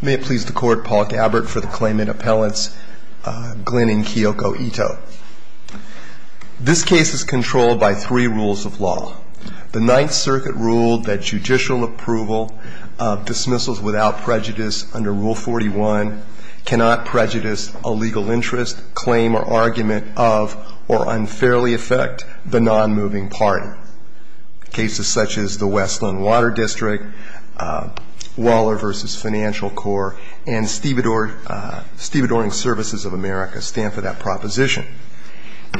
May it please the Court, Paul Gabbard for the Claimant Appellants, Glynn and Kiyoko Ito. This case is controlled by three rules of law. The Ninth Circuit ruled that judicial approval of dismissals without prejudice under Rule 41 cannot prejudice a legal interest, claim, or argument of, or unfairly affect, the non-moving party. Cases such as the Westland Water District, Waller v. Financial Corps, and Stevedoring Services of America stand for that proposition.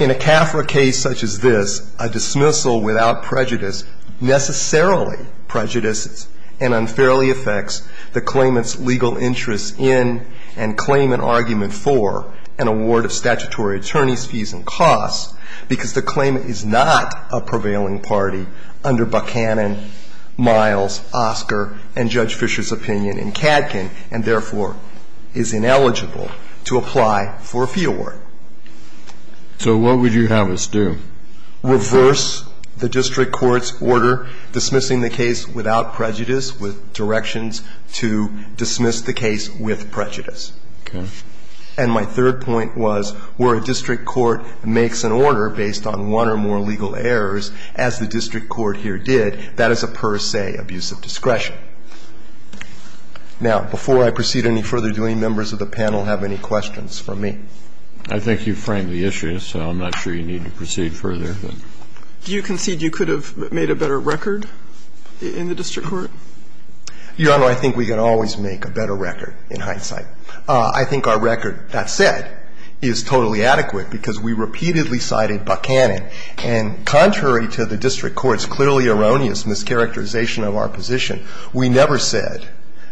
In a CAFRA case such as this, a dismissal without prejudice necessarily prejudices and unfairly affects the claimant's legal interest in and claim and argument for an award of statutory attorney's fees and costs because the claimant is not a prevailing party under Buchanan, Miles, Oscar, and Judge Fisher's opinion in CADCAN and therefore is ineligible to apply for a fee award. So what would you have us do? Reverse the district court's order dismissing the case without prejudice with directions to dismiss the case with prejudice. Okay. And my third point was where a district court makes an order based on one or more legal errors, as the district court here did, that is a per se abuse of discretion. Now, before I proceed any further, do any members of the panel have any questions from me? I think you framed the issue, so I'm not sure you need to proceed further. Do you concede you could have made a better record in the district court? Your Honor, I think we can always make a better record in hindsight. I think our record, that said, is totally adequate because we repeatedly cited Buchanan. And contrary to the district court's clearly erroneous mischaracterization of our position, we never said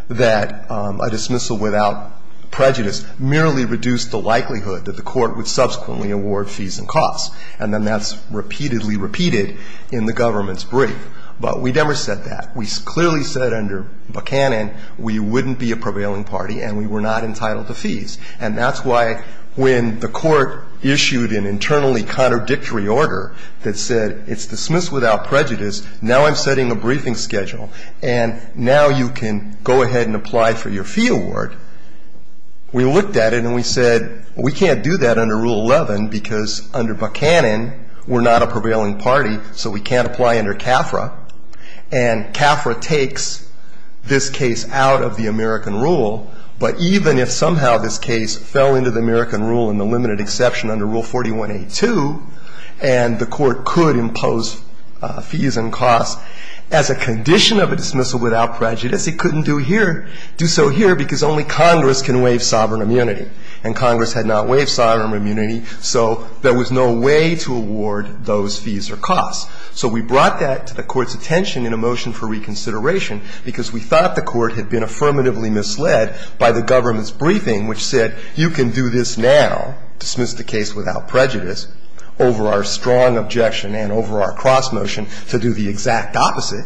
that a dismissal without prejudice merely reduced the likelihood that the court would subsequently award fees and costs. And then that's repeatedly repeated in the government's brief. But we never said that. We clearly said under Buchanan we wouldn't be a prevailing party and we were not entitled to fees. And that's why when the court issued an internally contradictory order that said it's dismissed without prejudice, now I'm setting a briefing schedule, and now you can go ahead and apply for your fee award, we looked at it and we said we can't do that under Rule 11 because under Buchanan we're not a prevailing party, so we can't apply under CAFRA. And CAFRA takes this case out of the American rule, but even if somehow this case fell into the American rule in the limited exception under Rule 41A2, and the court could impose fees and costs as a condition of a dismissal without prejudice, it couldn't do so here because only Congress can waive sovereign immunity. And Congress had not waived sovereign immunity, so there was no way to award those fees or costs. So we brought that to the court's attention in a motion for reconsideration because we thought the court had been affirmatively misled by the government's briefing which said you can do this now, dismiss the case without prejudice, over our strong objection and over our cross motion to do the exact opposite,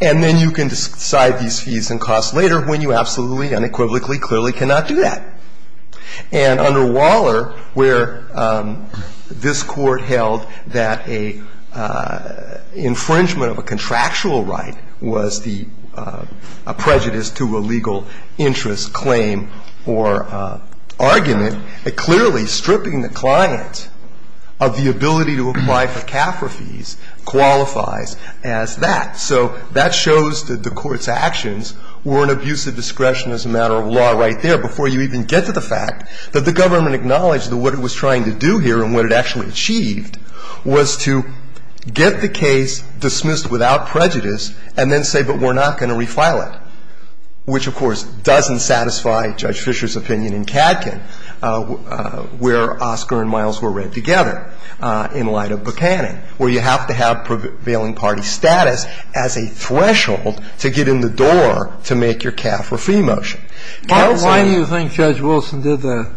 and then you can decide these fees and costs later when you absolutely, unequivocally, clearly cannot do that. And under Waller, where this Court held that an infringement of a contractual right was the prejudice to a legal interest claim or argument, clearly stripping the client of the ability to apply for CAFRA fees qualifies as that. So that shows that the Court's actions were an abuse of discretion as a matter of law right there before you even get to the fact that the government acknowledged that what it was trying to do here and what it actually achieved was to get the case dismissed without prejudice and then say, but we're not going to refile it, which, of course, doesn't satisfy Judge Fischer's opinion in Katkin where Oscar and Miles were read together in light of Buchanan, where you have to have prevailing party status as a threshold to get in the door to make your CAFRA fee motion. Kennedy. Why do you think Judge Wilson did that?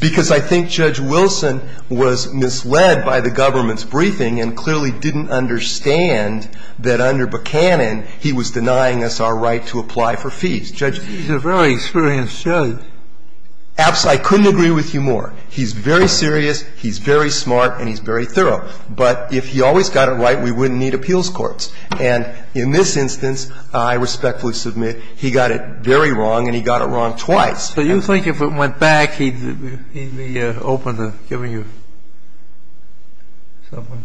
Because I think Judge Wilson was misled by the government's briefing and clearly didn't understand that under Buchanan he was denying us our right to apply for fees. He's a very experienced judge. He's very serious. He's very smart. And he's very thorough. But if he always got it right, we wouldn't need appeals courts. And in this instance, I respectfully submit, he got it very wrong and he got it wrong twice. So you think if it went back, he'd be open to giving you something?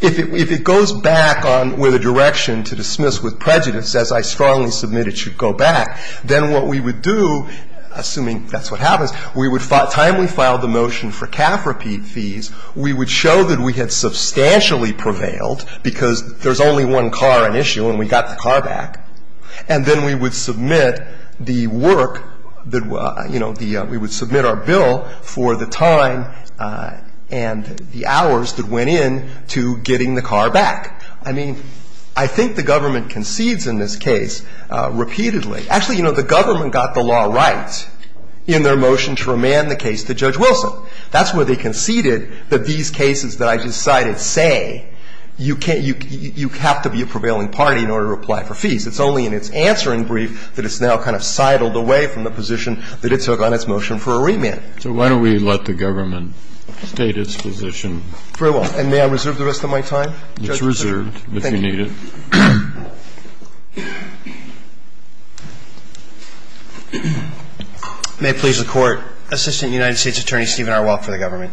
If it goes back with a direction to dismiss with prejudice, as I strongly submit it should go back, then what we would do, assuming that's what happens, we would file the motion for CAFRA fees, we would show that we had substantially prevailed because there's only one car at issue and we got the car back, and then we would submit the work that, you know, we would submit our bill for the time and the hours that went in to getting the car back. I mean, I think the government concedes in this case repeatedly. Actually, you know, the government got the law right in their motion to remand the case to Judge Wilson. That's where they conceded that these cases that I just cited say you can't you have to be a prevailing party in order to apply for fees. It's only in its answer in brief that it's now kind of sidled away from the position that it took on its motion for a remand. So why don't we let the government state its position? Very well. And may I reserve the rest of my time? It's reserved if you need it. Thank you. May it please the Court. Assistant United States Attorney Stephen Arwalt for the government.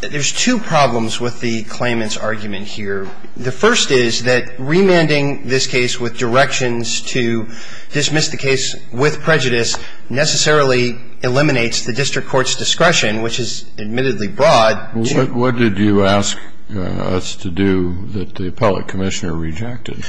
There's two problems with the claimant's argument here. The first is that remanding this case with directions to dismiss the case with prejudice necessarily eliminates the district court's discretion, which is admittedly broad. The second is that remanding the case with directions to dismiss the case with prejudice eliminates the district court's discretion. What did you ask us to do that the appellate commissioner rejected?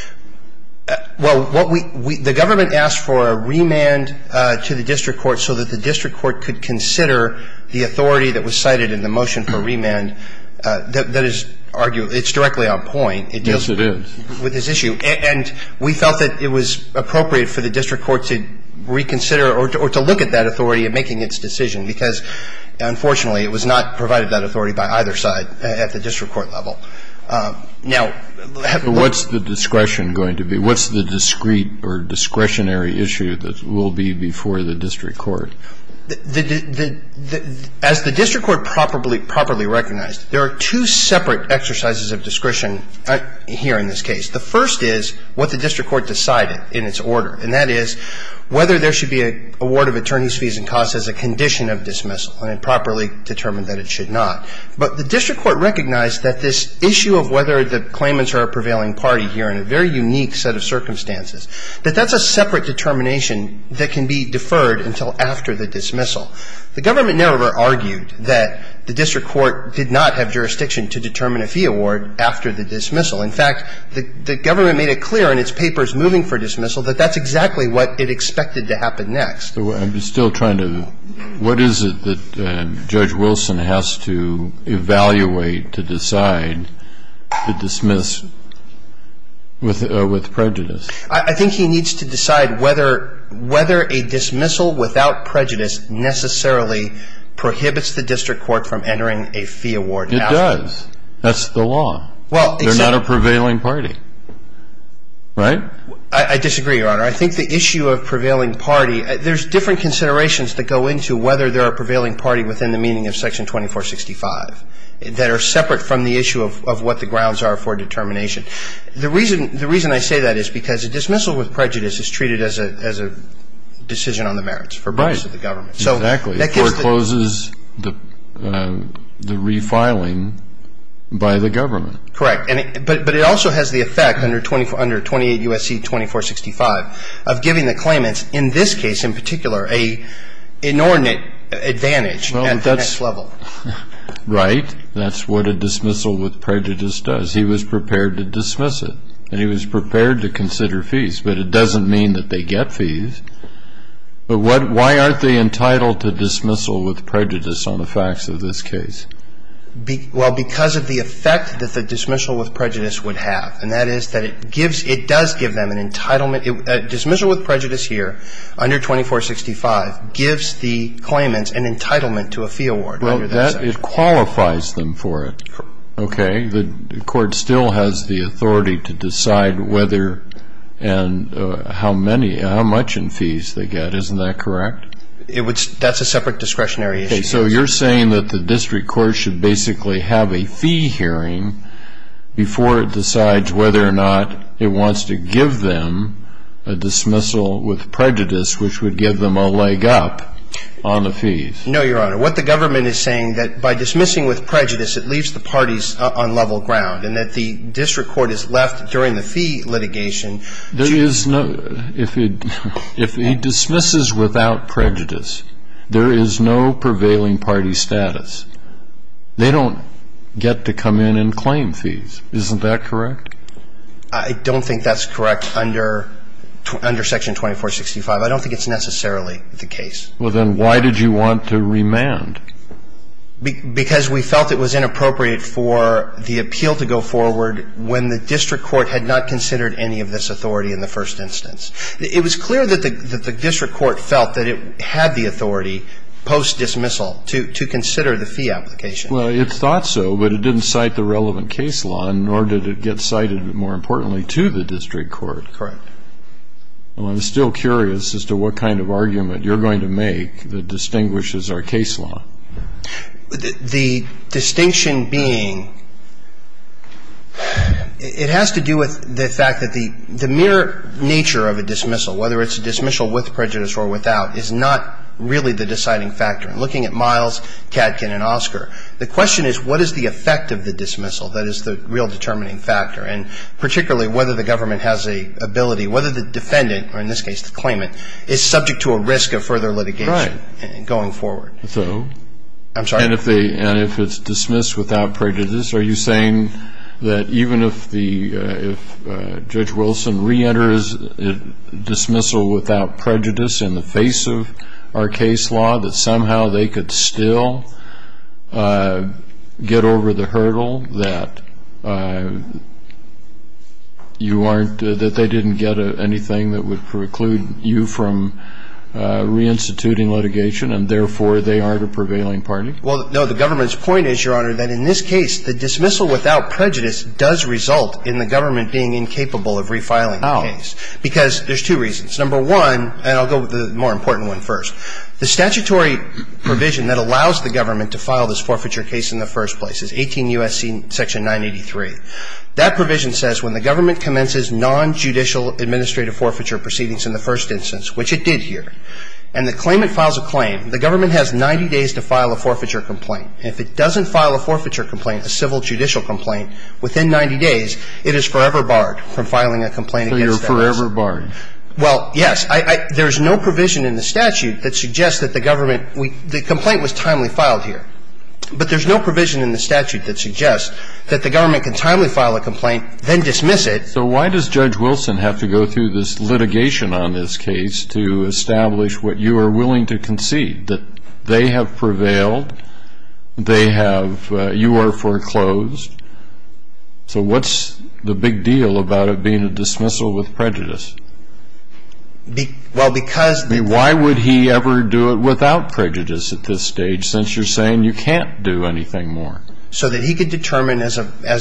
Well, what we the government asked for a remand to the district court so that the district court could consider the authority that was cited in the motion for remand that is argued. It's directly on point. Yes, it is. It deals with this issue. And we felt that it was appropriate for the district court to reconsider or to look at that authority in making its decision because, unfortunately, it was not provided that authority by either side at the district court level. Now, what's the discretion going to be? What's the discrete or discretionary issue that will be before the district court? As the district court properly recognized, there are two separate exercises of discretion here in this case. The first is what the district court decided in its order, and that is whether there should be an award of attorney's fees and costs as a condition of dismissal and it properly determined that it should not. But the district court recognized that this issue of whether the claimants are a prevailing party here in a very unique set of circumstances, that that's a separate determination that can be deferred until after the dismissal. The government never argued that the district court did not have jurisdiction to determine a fee award after the dismissal. In fact, the government made it clear in its papers moving for dismissal that that's exactly what it expected to happen next. So I'm still trying to – what is it that Judge Wilson has to evaluate to decide to dismiss with prejudice? I think he needs to decide whether a dismissal without prejudice necessarily prohibits the district court from entering a fee award after. It does. That's the law. They're not a prevailing party. Right? I disagree, Your Honor. I think the issue of prevailing party – there's different considerations that go into whether they're a prevailing party within the meaning of Section 2465 that are separate from the issue of what the grounds are for determination. The reason I say that is because a dismissal with prejudice is treated as a decision on the merits for most of the government. Right. Exactly. It forecloses the refiling by the government. Correct. But it also has the effect under 28 U.S.C. 2465 of giving the claimants, in this case in particular, an inordinate advantage at the next level. Right. That's what a dismissal with prejudice does. He was prepared to dismiss it, and he was prepared to consider fees, but it doesn't mean that they get fees. But why aren't they entitled to dismissal with prejudice on the facts of this case? Well, because of the effect that the dismissal with prejudice would have, and that is that it does give them an entitlement. A dismissal with prejudice here under 2465 gives the claimants an entitlement to a fee award under that section. Well, it qualifies them for it. Okay. But I think the court still has the authority to decide whether and how much in fees they get. Isn't that correct? That's a separate discretionary issue. Okay. So you're saying that the district court should basically have a fee hearing before it decides whether or not it wants to give them a dismissal with prejudice, which would give them a leg up on the fees. No, Your Honor. What the government is saying, that by dismissing with prejudice, it leaves the parties on level ground, and that the district court is left during the fee litigation. If he dismisses without prejudice, there is no prevailing party status. They don't get to come in and claim fees. Isn't that correct? I don't think that's correct under section 2465. I don't think it's necessarily the case. Well, then why did you want to remand? Because we felt it was inappropriate for the appeal to go forward when the district court had not considered any of this authority in the first instance. It was clear that the district court felt that it had the authority post-dismissal to consider the fee application. Well, it thought so, but it didn't cite the relevant case law, nor did it get cited, more importantly, to the district court. Correct. Well, I'm still curious as to what kind of argument you're going to make that distinguishes our case law. The distinction being it has to do with the fact that the mere nature of a dismissal, whether it's a dismissal with prejudice or without, is not really the deciding factor. Looking at Miles, Katkin, and Oscar, the question is what is the effect of the dismissal that is the real determining factor, and particularly whether the government has the ability, whether the defendant, or in this case the claimant, is subject to a risk of further litigation going forward. So? I'm sorry? And if it's dismissed without prejudice, are you saying that even if Judge Wilson reenters dismissal without prejudice in the face of our case law, that somehow they could still get over the hurdle that you aren't, that they didn't get anything that would preclude you from reinstituting litigation, and therefore they aren't a prevailing party? Well, no. The government's point is, Your Honor, that in this case the dismissal without prejudice does result in the government being incapable of refiling the case. Because there's two reasons. Number one, and I'll go with the more important one first. The statutory provision that allows the government to file this forfeiture case in the first place is 18 U.S.C. Section 983. That provision says when the government commences nonjudicial administrative forfeiture proceedings in the first instance, which it did here, and the claimant files a claim, the government has 90 days to file a forfeiture complaint. If it doesn't file a forfeiture complaint, a civil judicial complaint, within 90 days, it is forever barred from filing a complaint against that person. So you're forever barred. Well, yes. There's no provision in the statute that suggests that the government, the complaint was timely filed here. But there's no provision in the statute that suggests that the government can timely file a complaint, then dismiss it. So why does Judge Wilson have to go through this litigation on this case to establish what you are willing to concede, that they have prevailed, they have, you are foreclosed? So what's the big deal about it being a dismissal with prejudice? Well, because Why would he ever do it without prejudice at this stage, since you're saying you can't do anything more? So that he could determine, as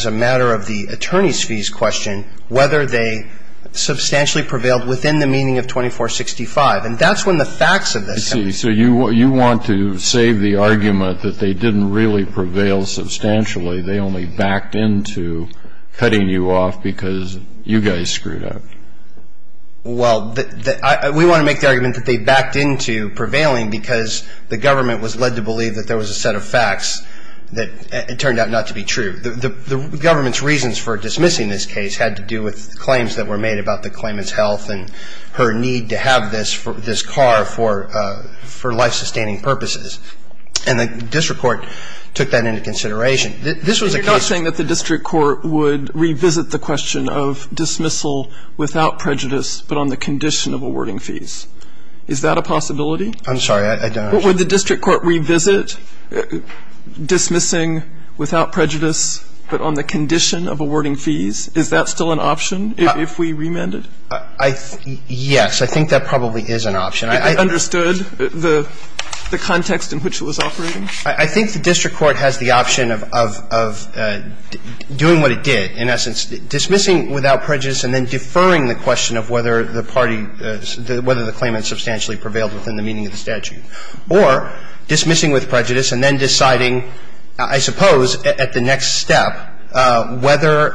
a matter of the attorney's fees question, whether they substantially prevailed within the meaning of 2465. And that's when the facts of this come into play. I see. So you want to save the argument that they didn't really prevail substantially. They only backed into cutting you off because you guys screwed up. Well, we want to make the argument that they backed into prevailing because the government was led to believe that there was a set of facts that it turned out not to be true. The government's reasons for dismissing this case had to do with claims that were made about the claimant's health and her need to have this car for life-sustaining purposes. And the district court took that into consideration. This was a case You're saying that the district court would revisit the question of dismissal without prejudice, but on the condition of awarding fees. Is that a possibility? I'm sorry. Would the district court revisit dismissing without prejudice, but on the condition of awarding fees? Is that still an option if we remanded? Yes. I think that probably is an option. If it understood the context in which it was operating? I think the district court has the option of doing what it did. In essence, dismissing without prejudice and then deferring the question of whether the claimant substantially prevailed within the meaning of the statute. Or dismissing with prejudice and then deciding, I suppose, at the next step, whether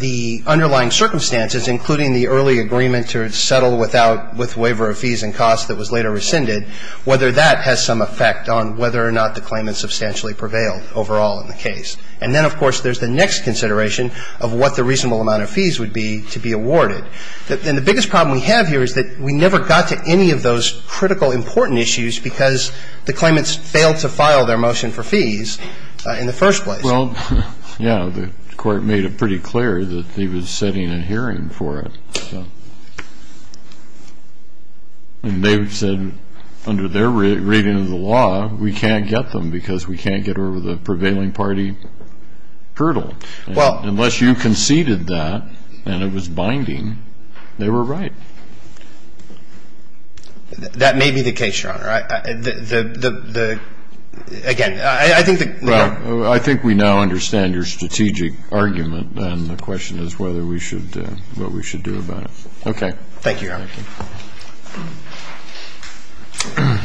the underlying circumstances, including the early agreement to settle without with waiver of fees and costs that was later rescinded, whether that has some effect on whether or not the claimant substantially prevailed overall in the case. And then, of course, there's the next consideration of what the reasonable amount of fees would be to be awarded. And the biggest problem we have here is that we never got to any of those critical, important issues because the claimants failed to file their motion for fees in the first place. Well, yeah, the court made it pretty clear that they were setting a hearing for it. And they said under their reading of the law, we can't get them because we can't get over the prevailing party hurdle. Unless you conceded that and it was binding, they were right. I think we now understand your strategic argument, and the question is whether we should do what we should do about it. Thank you, Your Honor. Thank you.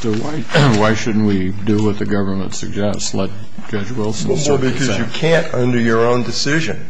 So why shouldn't we do what the government suggests, let Judge Wilson serve his sentence? Well, because you can't under your own decision,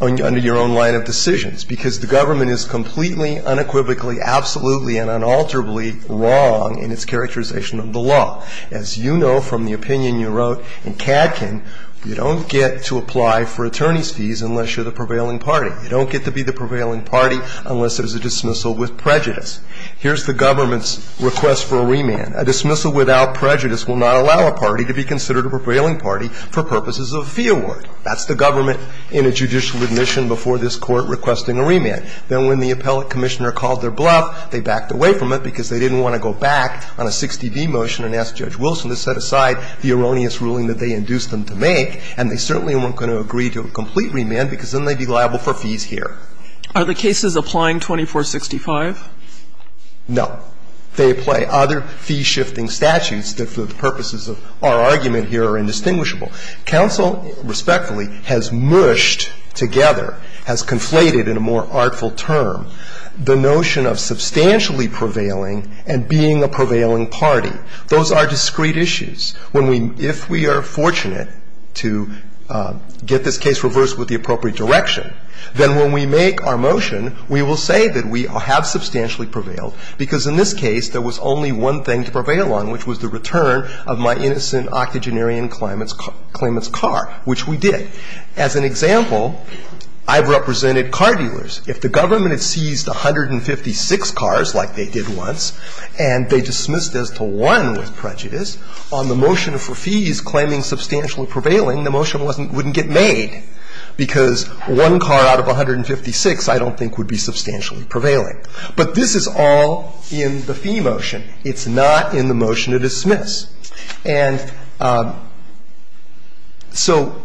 under your own line of decisions, because the government is completely, unequivocally, absolutely and unalterably wrong in its characterization of the law. As you know from the opinion you wrote in Cadkin, you don't get to apply for attorney's fees unless you're the prevailing party. You don't get to be the prevailing party unless there's a dismissal with prejudice. Here's the government's request for a remand. A dismissal without prejudice will not allow a party to be considered a prevailing party for purposes of fee award. That's the government in a judicial admission before this Court requesting a remand. Then when the appellate commissioner called their bluff, they backed away from it because they didn't want to go back on a 60B motion and ask Judge Wilson to set aside the erroneous ruling that they induced them to make, and they certainly weren't going to agree to a complete remand because then they'd be liable for fees here. Are the cases applying 2465? No. They apply other fee-shifting statutes that for the purposes of our argument here are indistinguishable. Counsel, respectfully, has mushed together, has conflated in a more artful term, the notion of substantially prevailing and being a prevailing party. Those are discrete issues. When we – if we are fortunate to get this case reversed with the appropriate direction, then when we make our motion, we will say that we have substantially prevailed because in this case there was only one thing to prevail on, which was the return of my innocent octogenarian claimant's car, which we did. As an example, I've represented car dealers. If the government had seized 156 cars like they did once and they dismissed this to one with prejudice, on the motion for fees claiming substantially prevailing, the motion wouldn't get made because one car out of 156 I don't think would be substantially prevailing. But this is all in the fee motion. It's not in the motion to dismiss. And so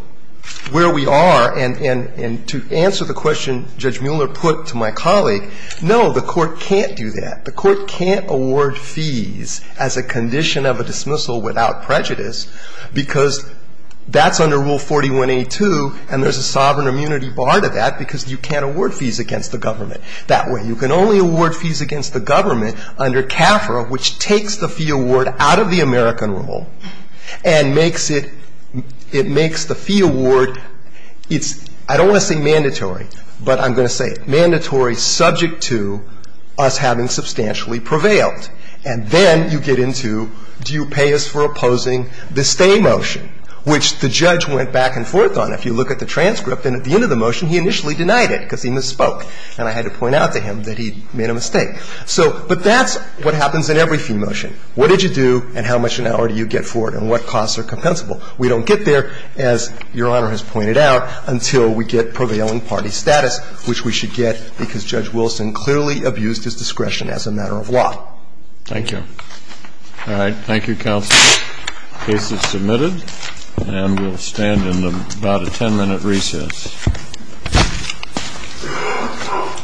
where we are, and to answer the question Judge Mueller put to my colleague, no, the Court can't do that. The Court can't award fees as a condition of a dismissal without prejudice because that's under Rule 41a2 and there's a sovereign immunity bar to that because you can't award fees against the government. That way. You can only award fees against the government under CAFRA, which takes the fee award out of the American rule and makes it, it makes the fee award, it's, I don't want to say mandatory, but I'm going to say mandatory subject to us having substantially prevailed. And then you get into do you pay us for opposing the stay motion, which the judge went back and forth on. If you look at the transcript, then at the end of the motion he initially denied it because he misspoke and I had to point out to him that he made a mistake. So, but that's what happens in every fee motion. What did you do and how much an hour do you get for it and what costs are compensable? We don't get there, as Your Honor has pointed out, until we get prevailing party status, which we should get because Judge Wilson clearly abused his discretion as a matter of law. Thank you. All right. Thank you, counsel. The case is submitted and we'll stand in about a 10-minute recess. Thank you.